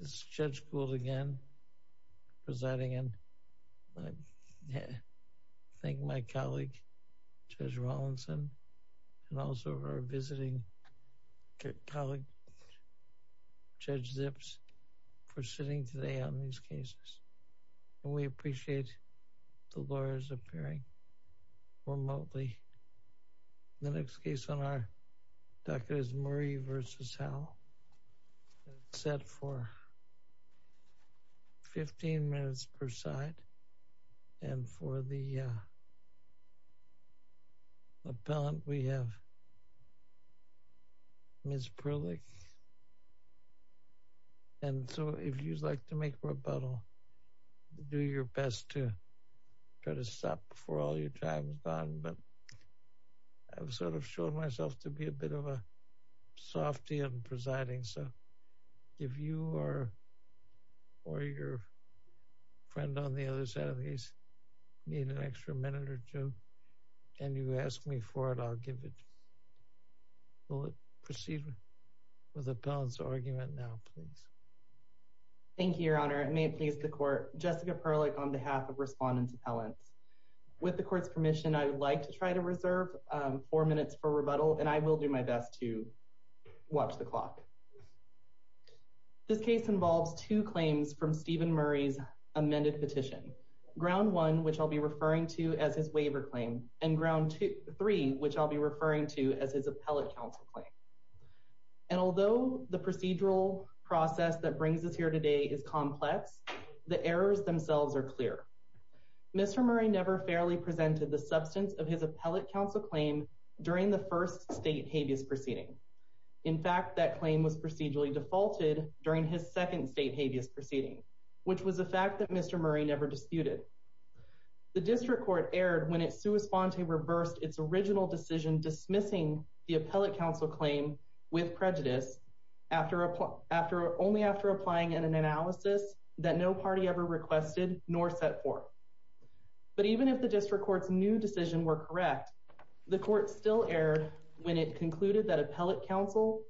This is Judge Gould again presiding and I thank my colleague Judge Rawlinson and also our visiting colleague Judge Zips for sitting today on these cases. We appreciate the lawyers appearing remotely. The next case on our docket is Murray v. Howell set for 15 minutes per side and for the appellant we have Ms. Prillick and so if you'd like to make a rebuttal do your best to try to stop before all your time is gone but I've sort of shown myself to be a bit of a softy and presiding so if you are or your friend on the other side of these need an extra minute or two and you ask me for it I'll give it. We'll proceed with the appellant's argument now please. Thank you your honor it may please the court Jessica Prillick on behalf of respondents appellants. With the court's permission I would like to try to reserve four minutes for rebuttal and I will do my best to watch the clock. This case involves two claims from Stephen Murray's amended petition. Ground one which I'll be referring to as his waiver claim and ground two three which I'll be referring to as his appellate counsel claim. And although the procedural process that brings us here today is complex the errors themselves are clear. Mr. Murray never fairly presented the substance of his appellate counsel claim during the first state habeas proceeding. In fact that claim was procedurally defaulted during his second state habeas proceeding which was a fact that Mr. Murray never disputed. The district court erred when it sua sponte reversed its original decision dismissing the appellate counsel claim with prejudice after only after applying in an analysis that no party ever requested nor set forth. But even if the district court's new decision were correct the court still erred when it concluded that appellate counsel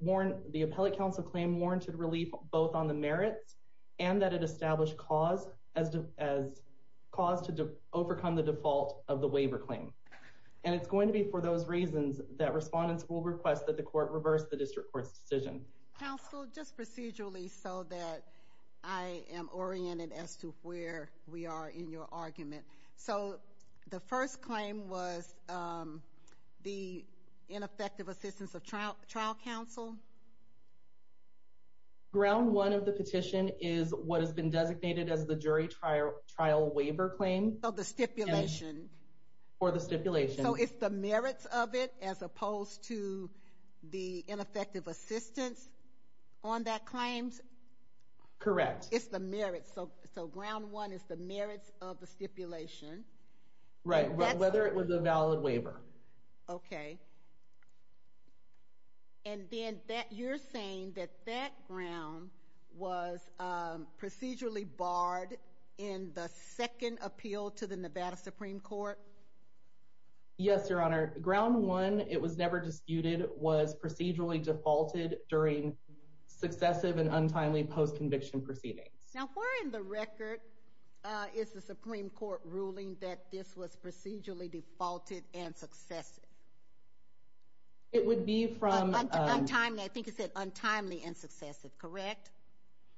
warranted relief both on the merits and that it established cause to overcome the default of the waiver claim. And it's going to be for those reasons that respondents will request that the court reverse the district court's decision. Counsel just procedurally so that I am oriented as to where we are in your argument. So the first claim was the ineffective assistance of trial trial counsel. Ground one of the petition is what has been designated as the jury trial waiver claim. Of the stipulation. For the stipulation. So it's the merits of it as opposed to the ineffective assistance on that claims. Correct. It's the merits so so ground one is the merits of the stipulation. Right whether it was a valid waiver. Okay and then that you're saying that that ground was procedurally barred in the second appeal to the Nevada Supreme Court. Yes your honor. Ground one it was never disputed was procedurally defaulted during successive and untimely post-conviction proceedings. Now where in the record is the Supreme Court ruling that this was procedurally defaulted and successive? It would be from. Untimely I think you said untimely and successive correct?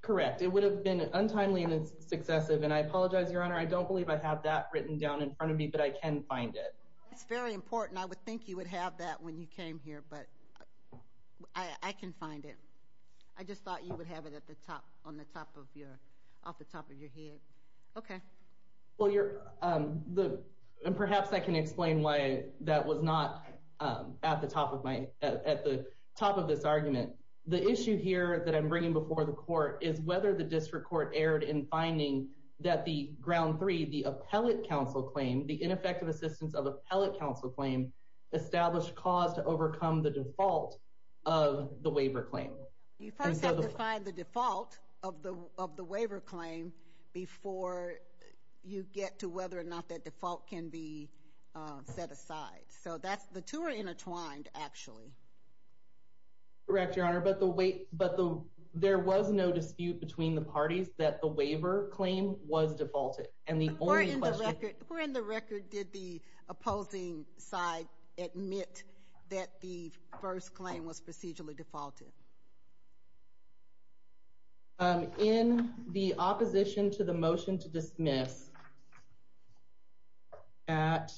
Correct it would have been untimely and successive and I apologize your honor I don't believe I have that written down in front of me but I can find it. It's very important I would think you would have that when you came here but I I can find it. I just thought you would have it at the top on the top of your off the top of your head. Okay. Well you're the and perhaps I can explain why that was not at the top of my at the top of this argument. The issue here that I'm bringing before the court is whether the district court erred in finding that the ground three the appellate counsel claim the ineffective assistance of appellate counsel claim established cause to overcome the default of the waiver claim. You first have to find the default of the of the waiver claim before you get to whether or not that default can be set aside. So that's the two are intertwined actually. Correct your honor but the wait but the there was no dispute between the parties that the waiver claim was defaulted and the only question. Where in the record did the opposing side admit that the first claim was procedurally defaulted? Um in the opposition to the motion to dismiss at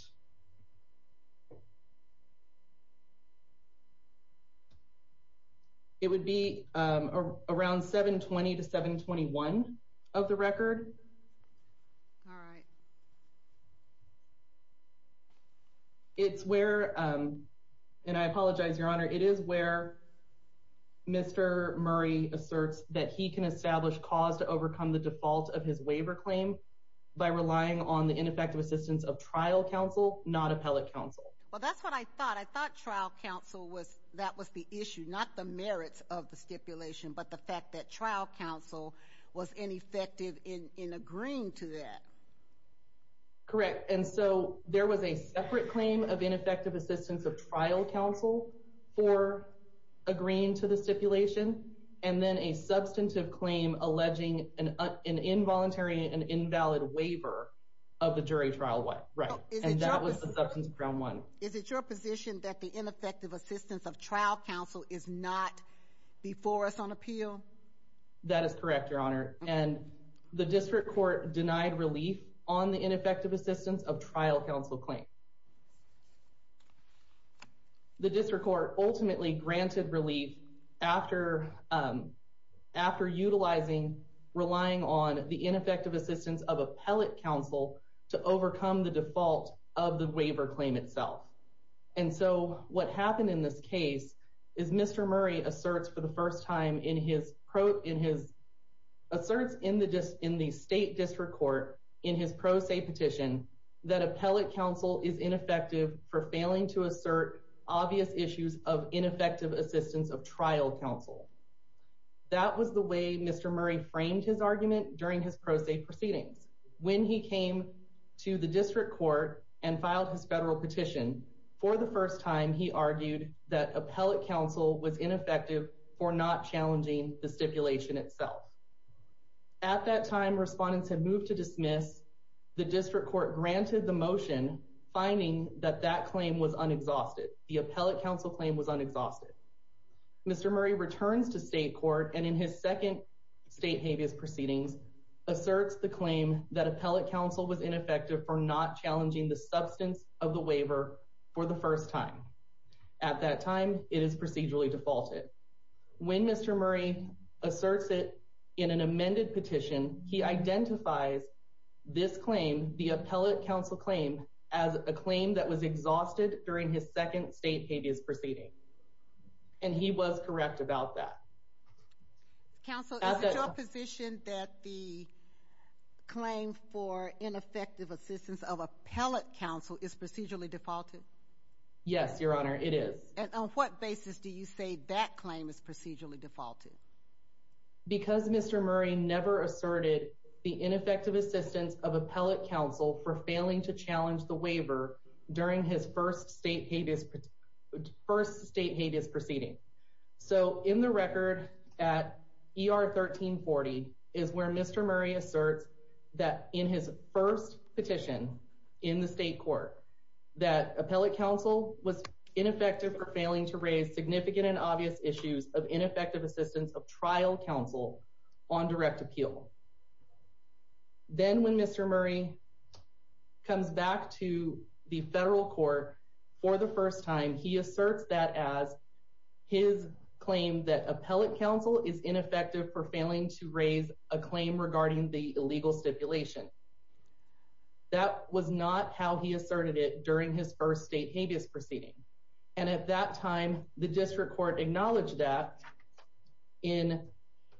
it would be around 720 to 721 of the record. All right. It's where um and I apologize your honor it is where Mr. Murray asserts that he can establish cause to overcome the default of his waiver claim by relying on the ineffective assistance of trial counsel not appellate counsel. Well that's what I thought I thought trial counsel was that was the issue not the merits of the stipulation but the fact that trial counsel was ineffective in in agreeing to that. Correct and so there was a separate claim of ineffective assistance of trial counsel for agreeing to the stipulation and then a substantive claim alleging an an involuntary and invalid waiver of the jury trial what right and that was the substance of ground one. Is it your position that the ineffective assistance of trial counsel is not before us on appeal? That is correct your honor and the district court denied relief on the ineffective assistance of trial counsel claim. The district court ultimately granted relief after um after utilizing relying on the ineffective assistance of appellate counsel to overcome the default of the waiver claim itself and so what happened in this case is Mr. Murray asserts for the first time in his pro in his asserts in the dist in the state district court in his pro se petition that appellate counsel is ineffective for failing to assert obvious issues of ineffective assistance of trial counsel. That was the way Mr. Murray framed his argument during his pro se proceedings when he came to the that appellate counsel was ineffective for not challenging the stipulation itself. At that time respondents had moved to dismiss the district court granted the motion finding that that claim was unexhausted. The appellate counsel claim was unexhausted. Mr. Murray returns to state court and in his second state habeas proceedings asserts the claim that appellate counsel was ineffective for not challenging the substance of the waiver for the first time. At that time it is procedurally defaulted. When Mr. Murray asserts it in an amended petition he identifies this claim the appellate counsel claim as a claim that was exhausted during his second state habeas proceeding and he was correct about that. Counsel is it your position that the claim for ineffective assistance of appellate counsel is procedurally defaulted? Yes your honor it is. And on what basis do you say that claim is procedurally defaulted? Because Mr. Murray never asserted the ineffective assistance of appellate counsel for failing to challenge the waiver during his first state habeas first state habeas proceeding. So in the record at ER 1340 is where Mr. Murray asserts that in his first petition in the state court that appellate counsel was ineffective for failing to raise significant and obvious issues of ineffective assistance of trial counsel on direct appeal. Then when Mr. Murray comes back to the federal court for the first time he asserts that as his claim that appellate counsel is ineffective for failing to raise a claim regarding the illegal stipulation. That was not how he asserted it during his first state habeas proceeding and at that time the district court acknowledged that in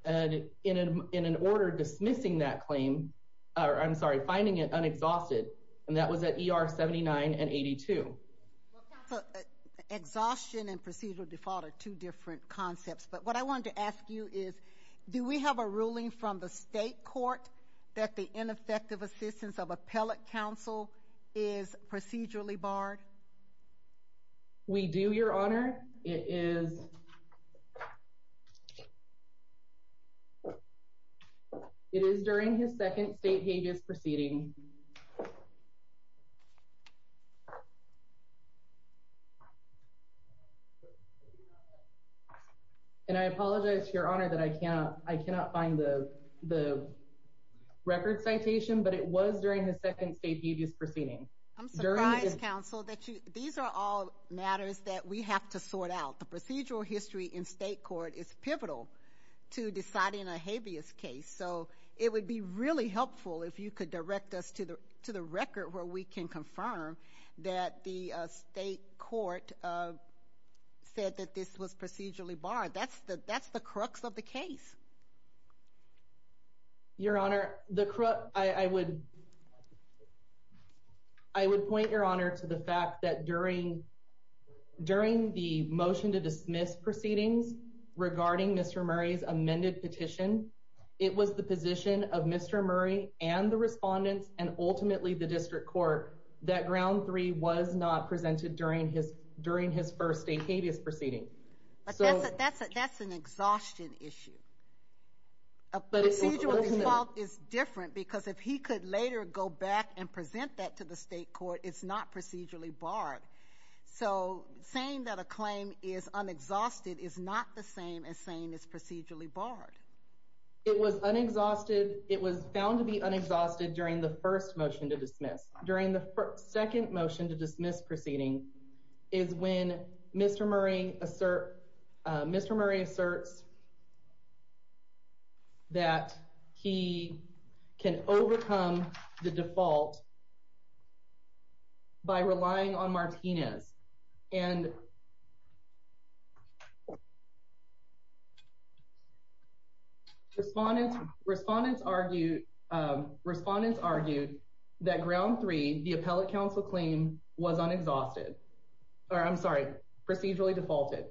an order dismissing that claim or I'm sorry finding it unexhausted and that was at ER 79 and 82. Exhaustion and procedural default are two different concepts but what I wanted to ask you is do we have a ruling from the state court that the ineffective assistance of appellate counsel is procedurally barred? We do your honor it is it is during his second state habeas proceeding and I apologize your honor that I can't I cannot find the the record citation but it was during the second state habeas proceeding. I'm surprised counsel that you these are all matters that we have to sort out the procedural history in state court is pivotal to deciding a habeas case so it would be really helpful if you could direct us to the to the record where we can confirm that the state court said that this was procedurally barred that's the that's the crux of the case. Your honor the crux I would I would point your honor to the fact that during during the motion to dismiss proceedings regarding Mr. Murray's amended petition it was the position of Mr. Murray and the respondents and ultimately the district court that ground three was not presented during his during his first state habeas proceeding. That's an exhaustion issue a procedural default is different because if he could later go back and present that to the state court it's not procedurally barred. So saying that a claim is unexhausted is not the same as saying it's procedurally barred. It was unexhausted it was found to be unexhausted during the first motion to dismiss. During the second motion to dismiss proceeding is when Mr. Murray assert Mr. Murray asserts that he can overcome the default by relying on Martinez and respondents respondents argued respondents argued that ground three the appellate counsel claim was unexhausted or I'm sorry procedurally defaulted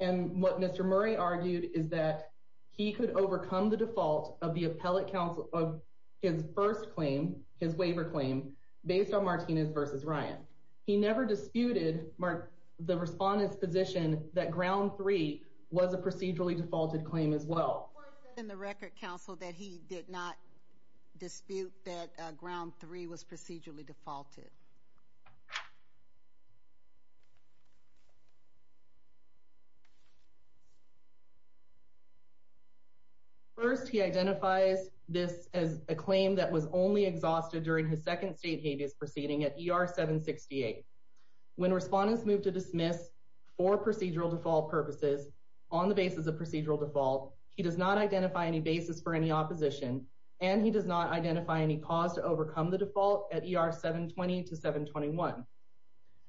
and what Mr. Murray argued is that he could overcome the default of the appellate counsel of his first claim his waiver claim based on Martinez versus Ryan. He never disputed the respondent's position that ground three was a procedurally defaulted claim as well. And the record counsel that he did not dispute that ground three was procedurally defaulted. First he identifies this as a claim that was only exhausted during his second state habeas proceeding at ER 768. When respondents moved to dismiss for procedural default purposes on the basis of procedural default he does not identify any basis for any opposition and he does not identify any cause to overcome the default at ER 720 to 721.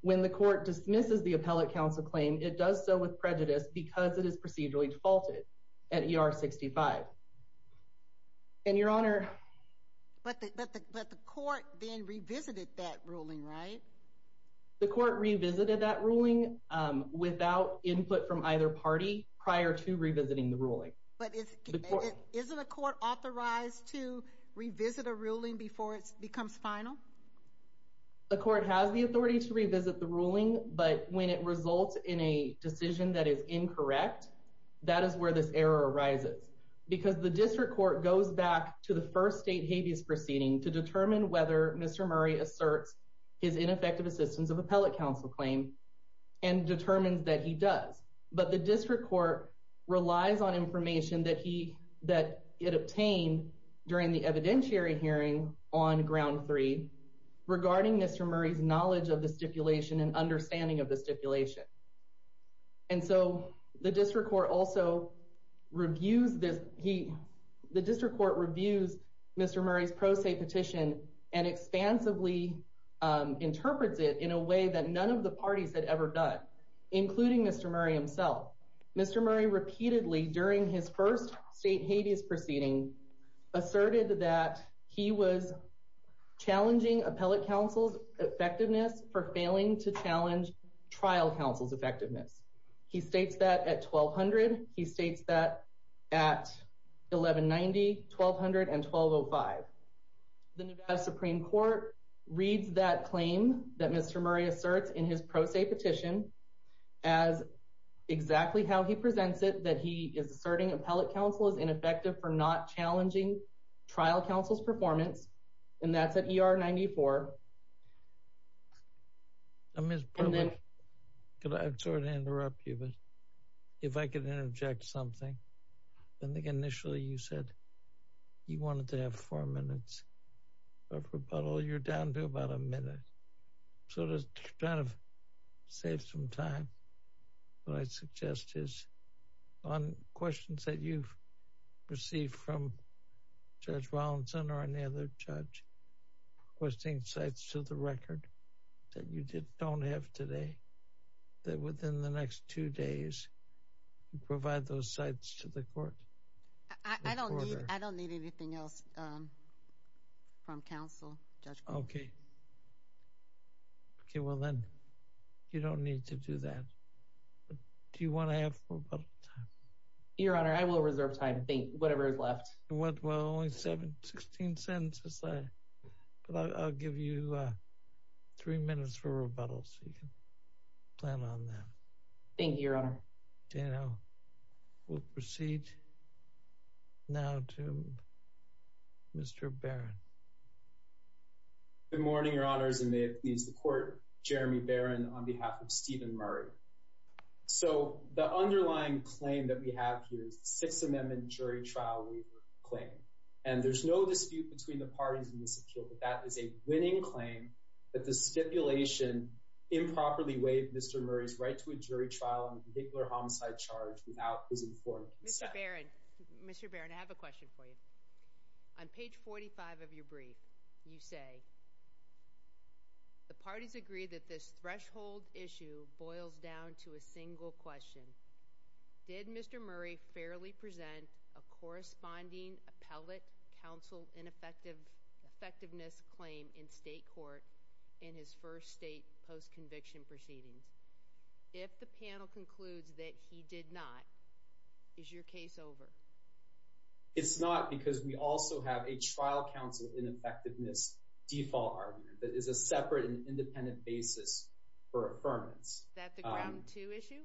When the court dismisses the appellate counsel claim it does so with prejudice because it is procedurally defaulted at ER 65. And your honor. But the court then revisited that ruling right? The court revisited that ruling without input from either party prior to revisiting the ruling. But isn't a court authorized to revisit a ruling before it becomes final? The court has the authority to revisit the ruling but when it results in a decision that is incorrect that is where this error arises. Because the district court goes back to the first state habeas proceeding to determine whether Mr. Murray asserts his ineffective assistance of appellate counsel claim and determines that he does. But the district court relies on information that he obtained during the evidentiary hearing on ground three regarding Mr. Murray's knowledge of the stipulation and understanding of the stipulation. And so the district court also reviews this he the district court reviews Mr. Murray's pro se petition and expansively interprets it in a way that none of the parties had ever done including Mr. Murray himself. Mr. Murray repeatedly during his first state habeas proceeding asserted that he was challenging appellate counsel's effectiveness for failing to challenge trial counsel's effectiveness. He states that at 1200 he states that at 1190 1200 and 1205. The Nevada Supreme Court reads that claim that Mr. Murray asserts in his pro se petition as exactly how he presents it that he is asserting appellate counsel is ineffective for not challenging trial counsel's performance and that's at er 94. I'm Ms. Berwick could I sort of interrupt you but if I could interject something I think initially you said you wanted to have four minutes of rebuttal you're down to about a minute. So to kind of save some time what I suggest is on questions that you've received from Judge Rollinson or any other judge requesting sites to the record that you did don't have today that within the next two days you provide those sites to the court. I don't need I don't need anything else from counsel okay okay well then you don't need to do that but do you want to have four but your honor I will reserve time think whatever is left what well only seven 16 sentences I but I'll give you uh three minutes for rebuttal so you can plan on that thank you you know we'll proceed now to Mr. Barron. Good morning your honors and may it please the court Jeremy Barron on behalf of Stephen Murray. So the underlying claim that we have here is the Sixth Amendment jury trial waiver claim and there's no dispute between the parties in this appeal but that is a winning claim that the stipulation improperly waived Mr. Murray's right to a jury trial and particular homicide charge without his informed Mr. Barron Mr. Barron I have a question for you on page 45 of your brief you say the parties agree that this threshold issue boils down to a single question did Mr. Murray fairly present a corresponding appellate counsel ineffective effectiveness claim in state court in his first state post-conviction proceedings if the panel concludes that he did not is your case over it's not because we also have a trial counsel ineffectiveness default argument that is a separate and independent basis for affirmance that the ground two issue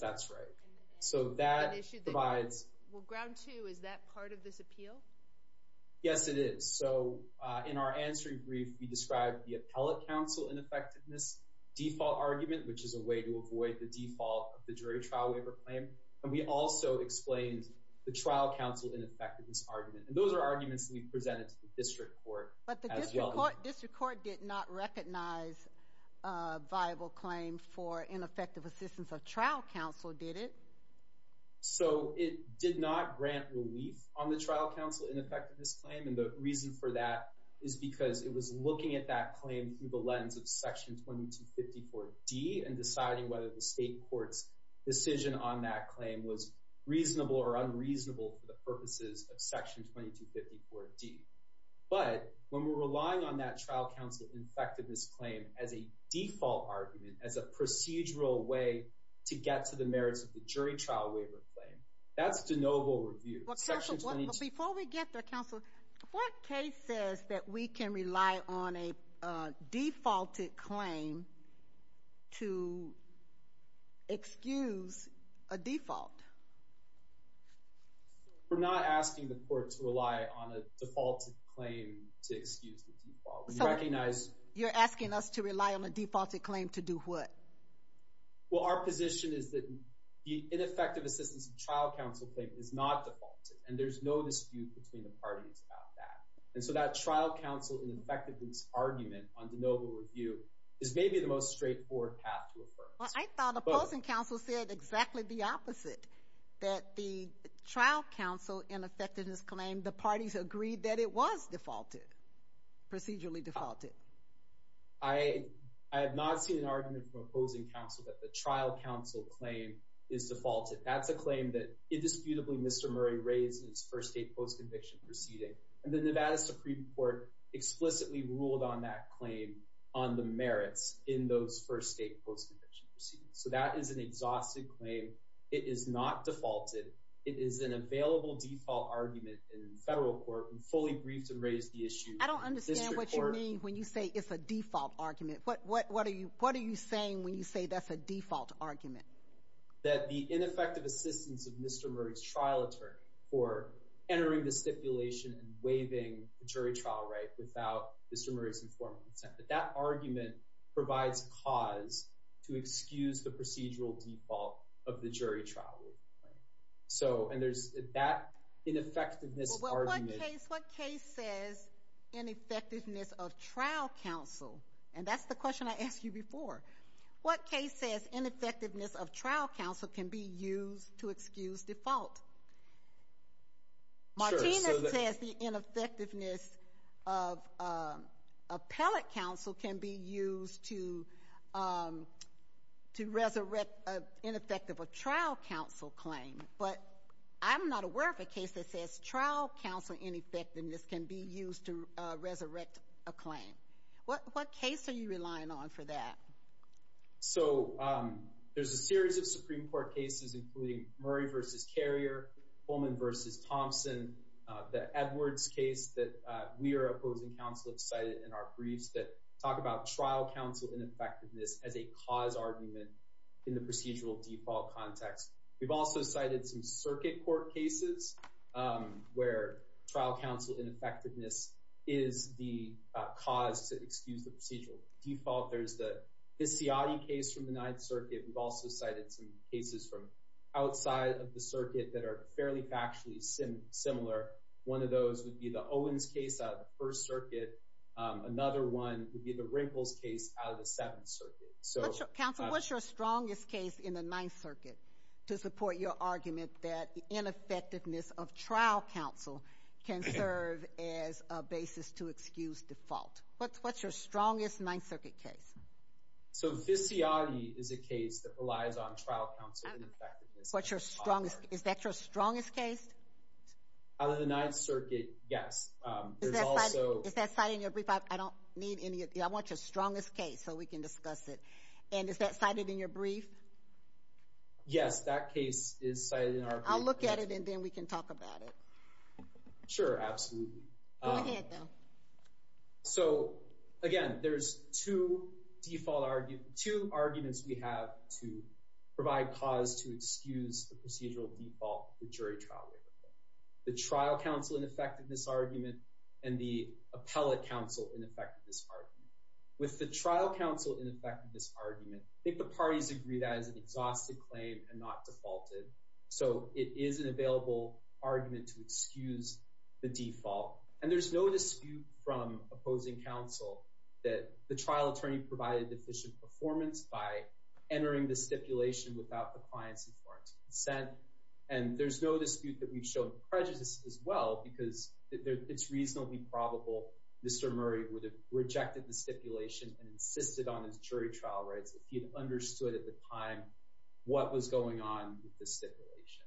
that's right so that issue provides well ground two is that part of this appeal yes it is so uh in our answering brief we described the appellate counsel ineffectiveness default argument which is a way to avoid the default of the jury trial waiver claim and we also explained the trial counsel ineffectiveness argument and those are arguments that we presented to the district court but the district court district court did not recognize a viable claim for ineffective assistance of trial counsel did it so it did not grant relief on the trial counsel ineffectiveness claim and the reason for that is because it was looking at that claim through the d and deciding whether the state court's decision on that claim was reasonable or unreasonable for the purposes of section 2254 d but when we're relying on that trial counsel effectiveness claim as a default argument as a procedural way to get to the merits of the jury trial waiver claim that's de novo review before we get there counsel what case says that we can rely on a defaulted claim to excuse a default we're not asking the court to rely on a defaulted claim to excuse the default we recognize you're asking us to rely on a defaulted claim to do what well our position is that the ineffective assistance of trial counsel claim is not defaulted and there's no dispute between the parties about that and so that trial counsel ineffectiveness argument on de novo review is maybe the most straightforward path to affirm i thought opposing counsel said exactly the opposite that the trial counsel ineffectiveness claim the parties agreed that it was defaulted procedurally defaulted i i have not seen an argument from opposing counsel that the trial counsel claim is defaulted that's a claim that indisputably mr murray raised in his first state post-conviction proceeding and the nevada supreme court explicitly ruled on that claim on the merits in those first state post-conviction proceedings so that is an exhausted claim it is not defaulted it is an available default argument in federal court and fully briefed and raised the issue i don't understand what you mean when you say it's a default argument what what what are you what are you saying when you say that's a default argument that the ineffective assistance of mr murray's trial attorney for entering the stipulation and waiving the jury trial right without mr murray's informal consent but that argument provides cause to excuse the procedural default of the jury trial right so and there's that ineffectiveness argument what case says ineffectiveness of trial counsel and that's the question i asked you before what case says ineffectiveness of trial counsel can be used to ineffectiveness of appellate counsel can be used to um to resurrect a ineffective a trial counsel claim but i'm not aware of a case that says trial counsel ineffectiveness can be used to resurrect a claim what what case are you relying on for that so um there's a series of supreme court cases including murray versus carrier fullman versus thompson the edwards case that we are opposing counsel have cited in our briefs that talk about trial counsel ineffectiveness as a cause argument in the procedural default context we've also cited some circuit court cases where trial counsel ineffectiveness is the cause to excuse the procedural default there's the case from the ninth circuit we've also cited some cases from outside of the circuit that are fairly factually similar one of those would be the owens case out of the first circuit another one would be the wrinkles case out of the seventh circuit so counsel what's your strongest case in the ninth circuit to support your argument that the ineffectiveness of trial counsel can serve as a basis to excuse default what's what's your strongest ninth circuit case so this is a case that relies on trial counsel what's your strongest is that your strongest case out of the ninth circuit yes um there's also is that citing your brief i don't need any i want your strongest case so we can discuss it and is that cited in your brief yes that case is cited in our i'll look at it and then we can talk about it sure absolutely go ahead though so again there's two default arguments two arguments we have to provide cause to excuse the procedural default the jury trial waiver the trial counsel ineffectiveness argument and the appellate counsel ineffectiveness argument with the trial counsel ineffectiveness argument i think the parties agree that is an exhausted claim and not defaulted so it is an available argument to excuse the default and there's no dispute from opposing counsel that the trial attorney provided efficient performance by entering the stipulation without the client's informed consent and there's no dispute that we've shown prejudice as well because it's reasonably probable mr murray would have rejected the stipulation and insisted on his jury trial rights if he had understood at the time what was going on with the stipulation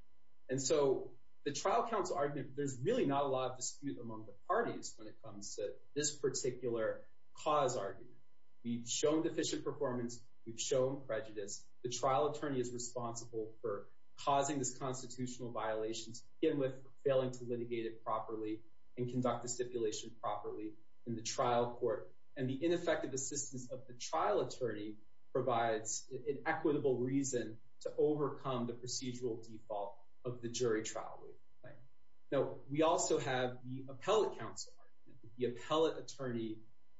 and so the trial counsel argument there's really not a lot of dispute among the parties when it comes to this particular cause argument we've shown deficient performance we've shown prejudice the trial attorney is responsible for causing this constitutional violations again with failing to litigate it properly and conduct the stipulation properly in the trial court and the ineffective assistance of the trial attorney provides an to overcome the procedural default of the jury trial right now we also have the appellate counsel argument the appellate attorney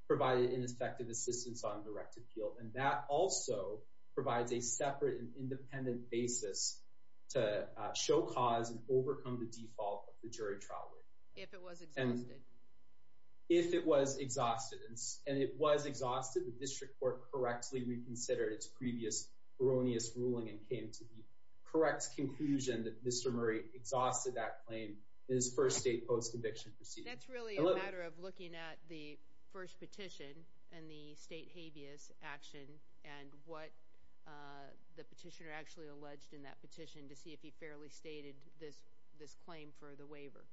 provided ineffective assistance on direct appeal and that also provides a separate and independent basis to show cause and overcome the default of the jury trial if it was exhausted if it was exhausted and it was exhausted the district court correctly reconsidered its previous erroneous ruling and came to the correct conclusion that mr murray exhausted that claim in his first state post conviction procedure that's really a matter of looking at the first petition and the state habeas action and what uh the petitioner actually alleged in that petition to see if he fairly stated this this claim for the waiver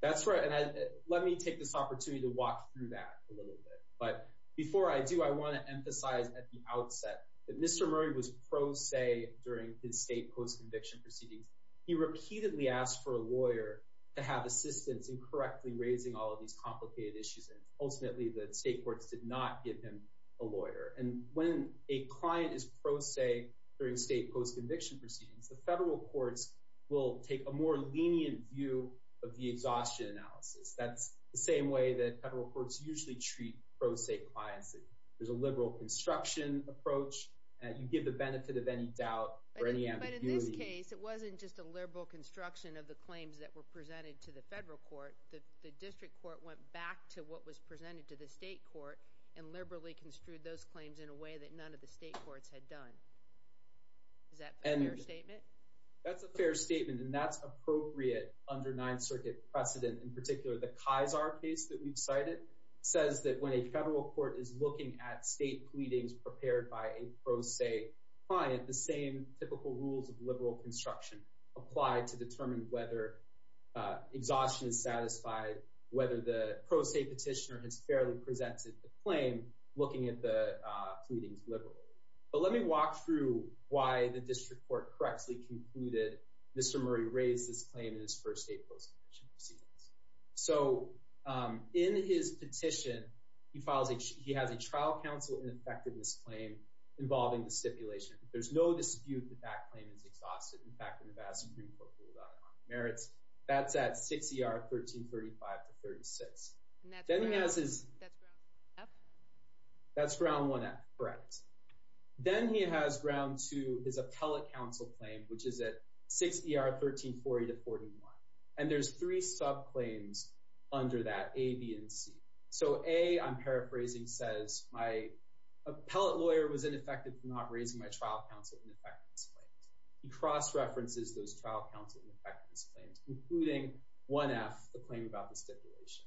that's right and i let me take this opportunity to walk through that a little bit but before i do i want to emphasize at the outset that mr murray was pro se during his state post conviction proceedings he repeatedly asked for a lawyer to have assistance in correctly raising all of these complicated issues and ultimately the state courts did not give him a lawyer and when a client is pro se during state post conviction proceedings the federal courts will take a more lenient view of the exhaustion analysis that's the same way that federal courts usually treat pro se clients there's a liberal construction approach and you give the benefit of any doubt or any ambiguity in this case it wasn't just a liberal construction of the claims that were presented to the federal court the district court went back to what was presented to the state court and liberally construed those claims in a way that none of the state courts had done is that a fair statement that's a fair statement and that's in particular the kaiser case that we've cited says that when a federal court is looking at state pleadings prepared by a pro se client the same typical rules of liberal construction apply to determine whether exhaustion is satisfied whether the pro se petitioner has fairly presented the claim looking at the pleadings liberally but let me walk through why the district court correctly concluded mr. murray raised this claim in his first state post so in his petition he files a he has a trial counsel in effect in this claim involving the stipulation there's no dispute that that claim is exhausted in fact in the vast supreme court rule about merits that's at 6 er 13 35 to 36 then he has his that's ground one at brett then he has ground to his appellate council claim which is at 6 er 13 40 to 41 and there's three sub claims under that a b and c so a i'm paraphrasing says my appellate lawyer was ineffective for not raising my trial counsel in effect he cross-references those trial counsel and effectiveness claims including 1f the claim about the stipulation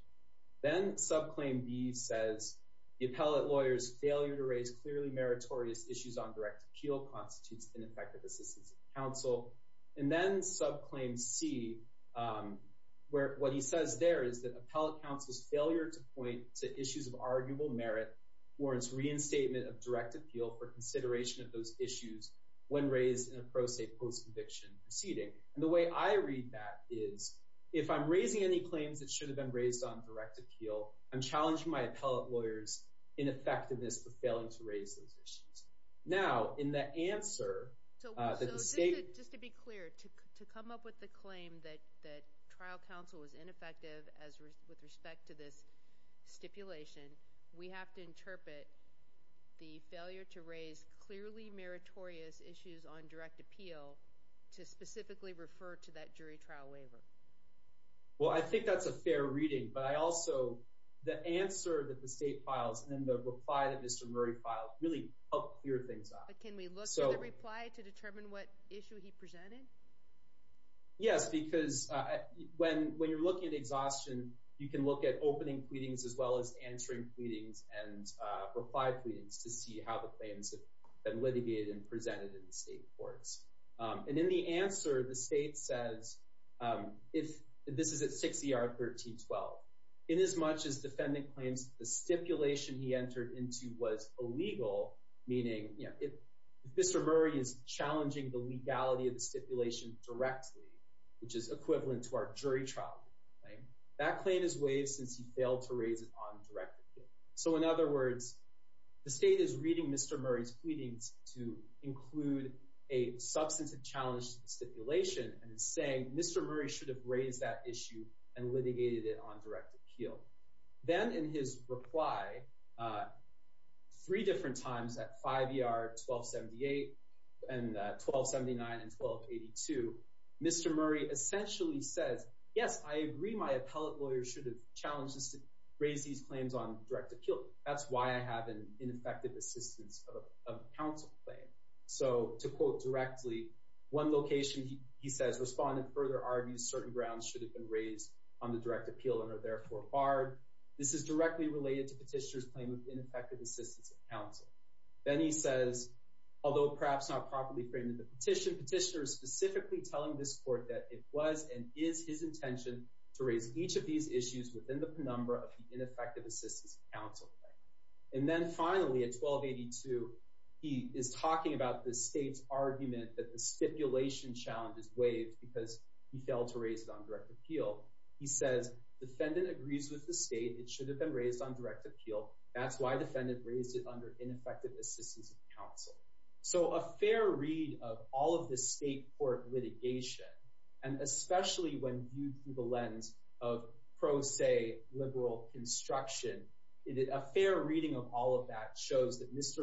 then subclaim b says the appellate lawyer's failure to raise clearly meritorious issues on direct appeal constitutes ineffective assistance counsel and then subclaim c where what he says there is that appellate counsel's failure to point to issues of arguable merit warrants reinstatement of direct appeal for consideration of those issues when raised in a pro se post conviction proceeding and the way i read that is if i'm raising any claims that should have been raised on direct appeal i'm challenging my appellate lawyers in effectiveness for failing to raise those issues now in the answer uh that the state just to be clear to come up with the claim that that trial counsel was ineffective as with respect to this stipulation we have to interpret the failure to raise clearly meritorious issues on direct appeal to specifically refer to that jury trial waiver well i think that's a fair reading but i also the answer that the state files and then the reply that mr murray filed really helped clear things up but can we look for the reply to determine what issue he presented yes because uh when when you're looking at exhaustion you can look at opening pleadings as well as answering pleadings and uh reply pleadings to see how the claims have been litigated and presented in the state courts and in the answer the state says um if this is at 6 er 13 12 in as much as defendant claims the stipulation he entered into was illegal meaning you know if mr murray is challenging the legality of the stipulation directly which is equivalent to our jury trial right that claim is waived since he failed to raise it on direct appeal so in other words the state is reading mr murray's pleadings to include a substantive challenge to the stipulation and saying mr murray should have raised that issue and litigated it on direct appeal then in his reply uh three different times at 5 er 1278 and 1279 and 1282 mr murray essentially says yes i agree my appellate lawyer should have challenged us to raise these claims on direct appeal that's why i have an ineffective assistance of counsel claim so to quote directly one location he says respondent further argues certain grounds should have been raised on the direct appeal and are therefore barred this is directly related to petitioner's claim of ineffective assistance of counsel then he says although perhaps not properly framed in the petition petitioner is specifically telling this court that it was and is his intention to raise each of these issues within the penumbra of the 1282 he is talking about the state's argument that the stipulation challenge is waived because he failed to raise it on direct appeal he says defendant agrees with the state it should have been raised on direct appeal that's why defendant raised it under ineffective assistance of counsel so a fair read of all of the state court litigation and especially when viewed through the lens of mr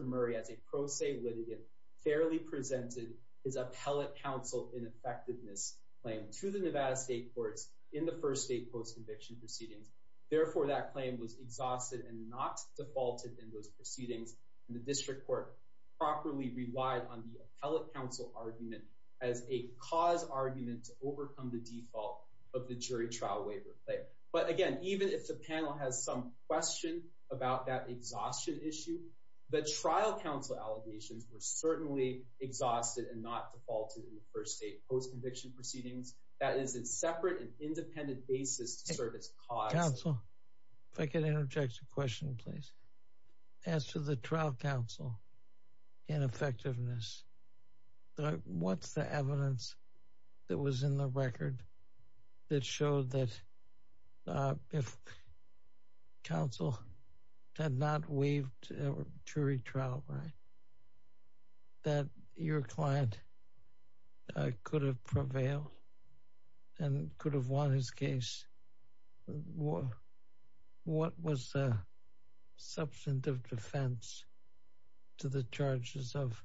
murray as a pro se litigant fairly presented his appellate counsel ineffectiveness claim to the nevada state courts in the first state post conviction proceedings therefore that claim was exhausted and not defaulted in those proceedings and the district court properly relied on the appellate counsel argument as a cause argument to overcome the default of the jury trial waiver but again even if the panel has some question about that exhaustion issue the trial counsel allegations were certainly exhausted and not defaulted in the first state post conviction proceedings that is in separate and independent basis to serve as cause counsel if i could interject a question please as to the trial counsel ineffectiveness what's the evidence that was in the record that showed that if counsel had not waived a jury trial right that your client could have prevailed and could have won his case what was the substantive defense to the charges of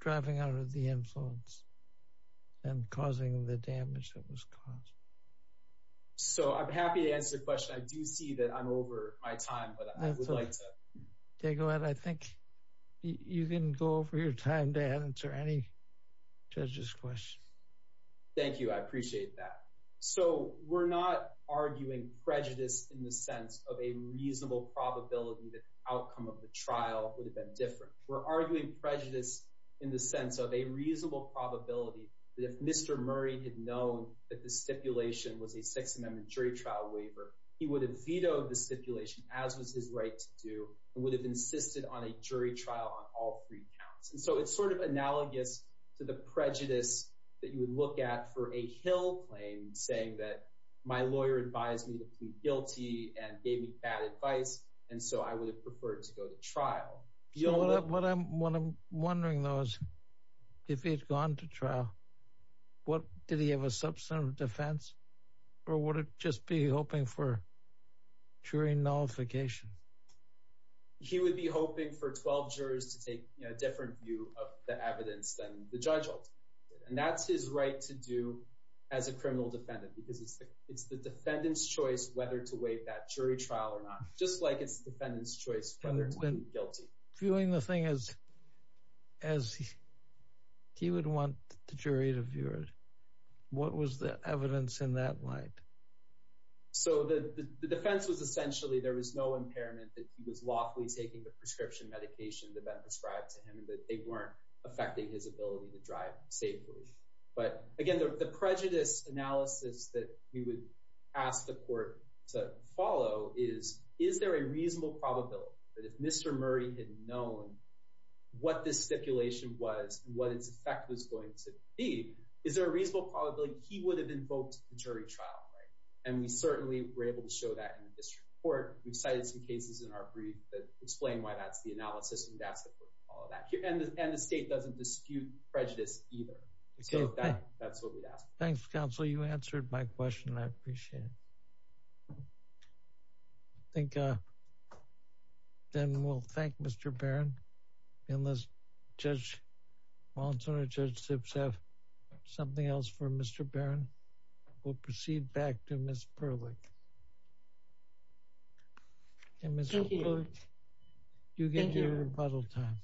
driving out of the influence and causing the damage that was caused so i'm happy to answer the question i do see that i'm over my time but i would like to go ahead i think you can go over your time to answer any judge's question thank you i appreciate that so we're not arguing prejudice in the sense of a reasonable probability that the outcome of the trial would have been different we're that if mr murray had known that the stipulation was a sixth amendment jury trial waiver he would have vetoed the stipulation as was his right to do and would have insisted on a jury trial on all three counts and so it's sort of analogous to the prejudice that you would look at for a hill claim saying that my lawyer advised me to plead guilty and gave me bad advice and so i would have preferred to go to trial you know what i'm what i'm wondering though is if he'd gone to trial what did he have a substantive defense or would it just be hoping for jury nullification he would be hoping for 12 jurors to take a different view of the evidence than the judge and that's his right to do as a criminal defendant because it's the it's the defendant's choice whether to wait that jury trial or not just like it's the defendant's choice whether to be guilty viewing the thing as as he would want the jury to view it what was the evidence in that light so the the defense was essentially there was no impairment that he was lawfully taking the prescription medication that had been prescribed to him that they weren't affecting his ability to drive safely but again the prejudice analysis that we would ask the court to follow is is there a reasonable probability that if mr murray had known what this stipulation was what its effect was going to be is there a reasonable probability he would have invoked the jury trial right and we certainly were able to show that in the district court we've cited some cases in our brief that either okay that's what we'd ask thanks counsel you answered my question i appreciate it i think uh then we'll thank mr barron and let's judge wallinson and judge zips have something else for mr barron we'll proceed back to miss perlick and mr you get your rebuttal time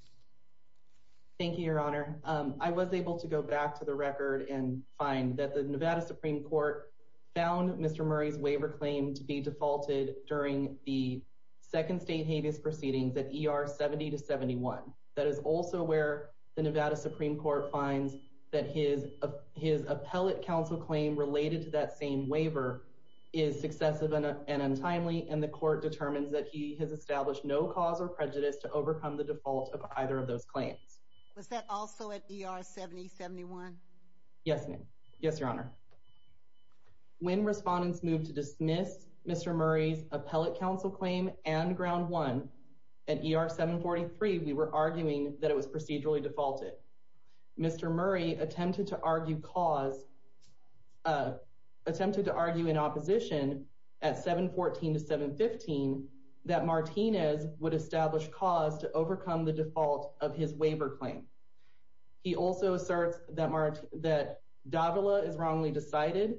thank you your honor um i was able to go back to the record and find that the nevada supreme court found mr murray's waiver claim to be defaulted during the second state habeas proceedings at er 70 to 71 that is also where the nevada supreme court finds that his of his appellate counsel claim related to that same waiver is successive and untimely and the court determines that he has established no cause or prejudice to overcome the default of either of those claims was that also at er 70 71 yes ma'am yes your honor when respondents moved to dismiss mr murray's appellate counsel claim and ground one at er 743 we were arguing that it was procedurally defaulted mr murray attempted to argue cause uh attempted to argue in opposition at 714 to 715 that martinez would establish cause to overcome the default of his waiver claim he also asserts that mart that davila is wrongly decided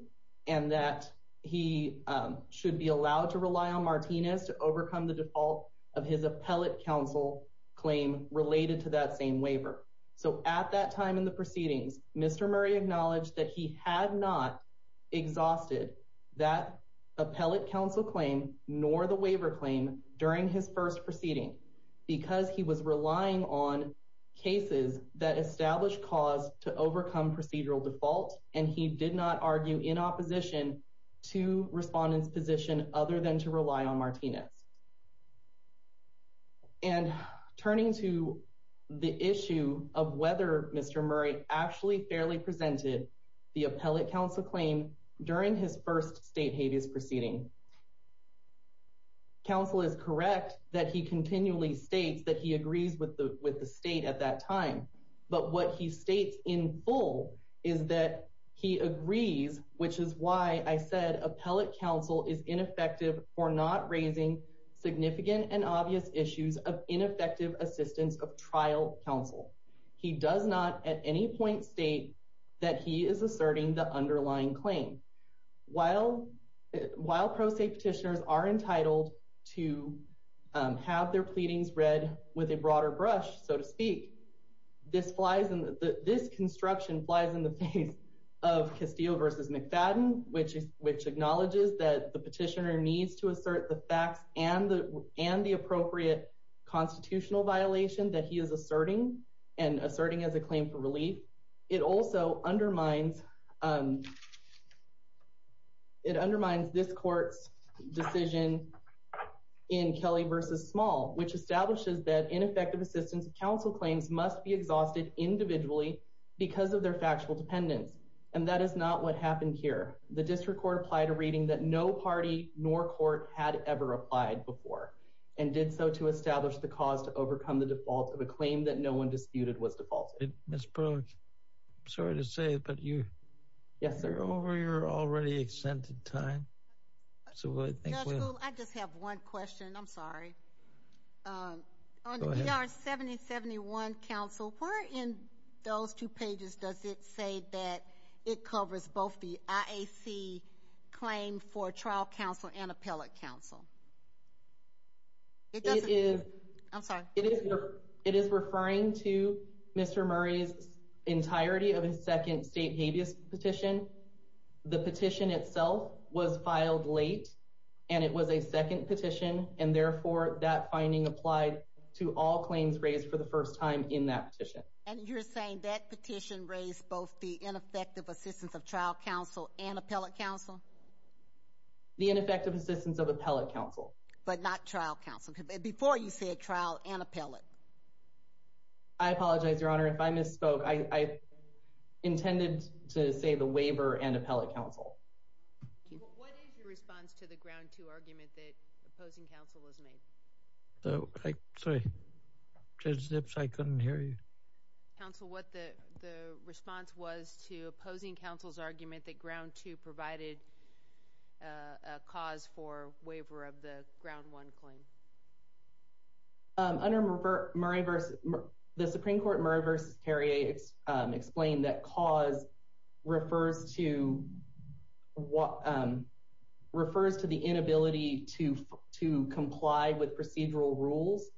and that he should be allowed to rely on martinez to overcome the default of his appellate counsel claim related to that same waiver so at that time in the proceedings mr murray acknowledged that he had not exhausted that appellate counsel claim nor the waiver claim during his first proceeding because he was relying on cases that established cause to overcome procedural default and he did not argue in opposition to respondents position other than rely on martinez and turning to the issue of whether mr murray actually fairly presented the appellate counsel claim during his first state habeas proceeding counsel is correct that he continually states that he agrees with the with the state at that time but what he states in full is that he agrees which is why i said appellate counsel is ineffective not raising significant and obvious issues of ineffective assistance of trial counsel he does not at any point state that he is asserting the underlying claim while while pro se petitioners are entitled to have their pleadings read with a broader brush so to speak this flies and this construction flies in the face of castillo versus mcfadden which is which acknowledges that the petitioner needs to assert the facts and the and the appropriate constitutional violation that he is asserting and asserting as a claim for relief it also undermines um it undermines this court's decision in kelly versus small which establishes that ineffective assistance of counsel claims must be exhausted individually because of their the district court applied a reading that no party nor court had ever applied before and did so to establish the cause to overcome the default of a claim that no one disputed was defaulted miss brooke i'm sorry to say but you yes they're over your already extended time so i think i just have one question i'm sorry um on the er 70 71 council where in those two pages does it say that it covers both the iac claim for trial counsel and appellate counsel it is i'm sorry it is it is referring to mr murray's entirety of his second state habeas petition the petition itself was filed late and it was a second petition and therefore that finding applied to all claims raised for the first time in that petition and you're saying that petition raised both the ineffective assistance of trial counsel and appellate counsel the ineffective assistance of appellate counsel but not trial counsel before you said trial and appellate i apologize your honor if i misspoke i i intended to say the waiver and appellate council what is your response to the ground two argument that opposing council has made so like sorry judge zips i couldn't hear you council what the the response was to opposing council's argument that ground two provided a cause for waiver of the ground one claim um under murray versus the supreme court murray versus terry a um explained that cause refers to what um refers to the inability to to comply with procedural rules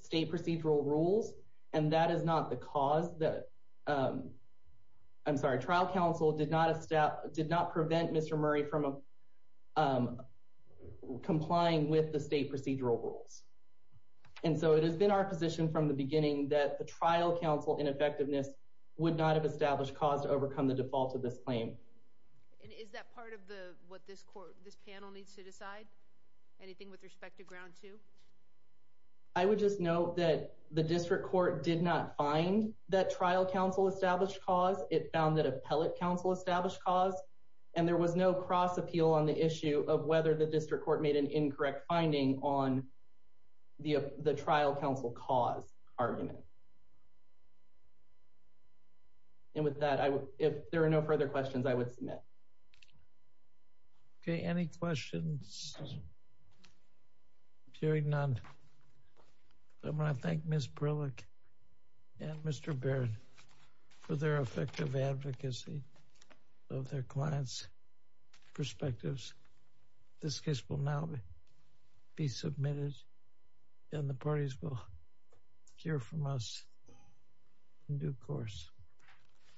state procedural rules and that is not the cause that um i'm sorry trial council did not establish did not prevent mr murray from um complying with the state procedural rules and so it has been our position from the beginning that the trial council ineffectiveness would not have established cause overcome the default of this claim and is that part of the what this court this panel needs to decide anything with respect to ground two i would just note that the district court did not find that trial council established cause it found that appellate council established cause and there was no cross appeal on the issue of whether the district court made an incorrect finding on the the trial council cause argument and with that i would if there are no further questions i would submit okay any questions hearing none i want to thank miss brillick and mr baird for their effective advocacy of their clients perspectives this case will now be submitted and the parties will hear from us in due course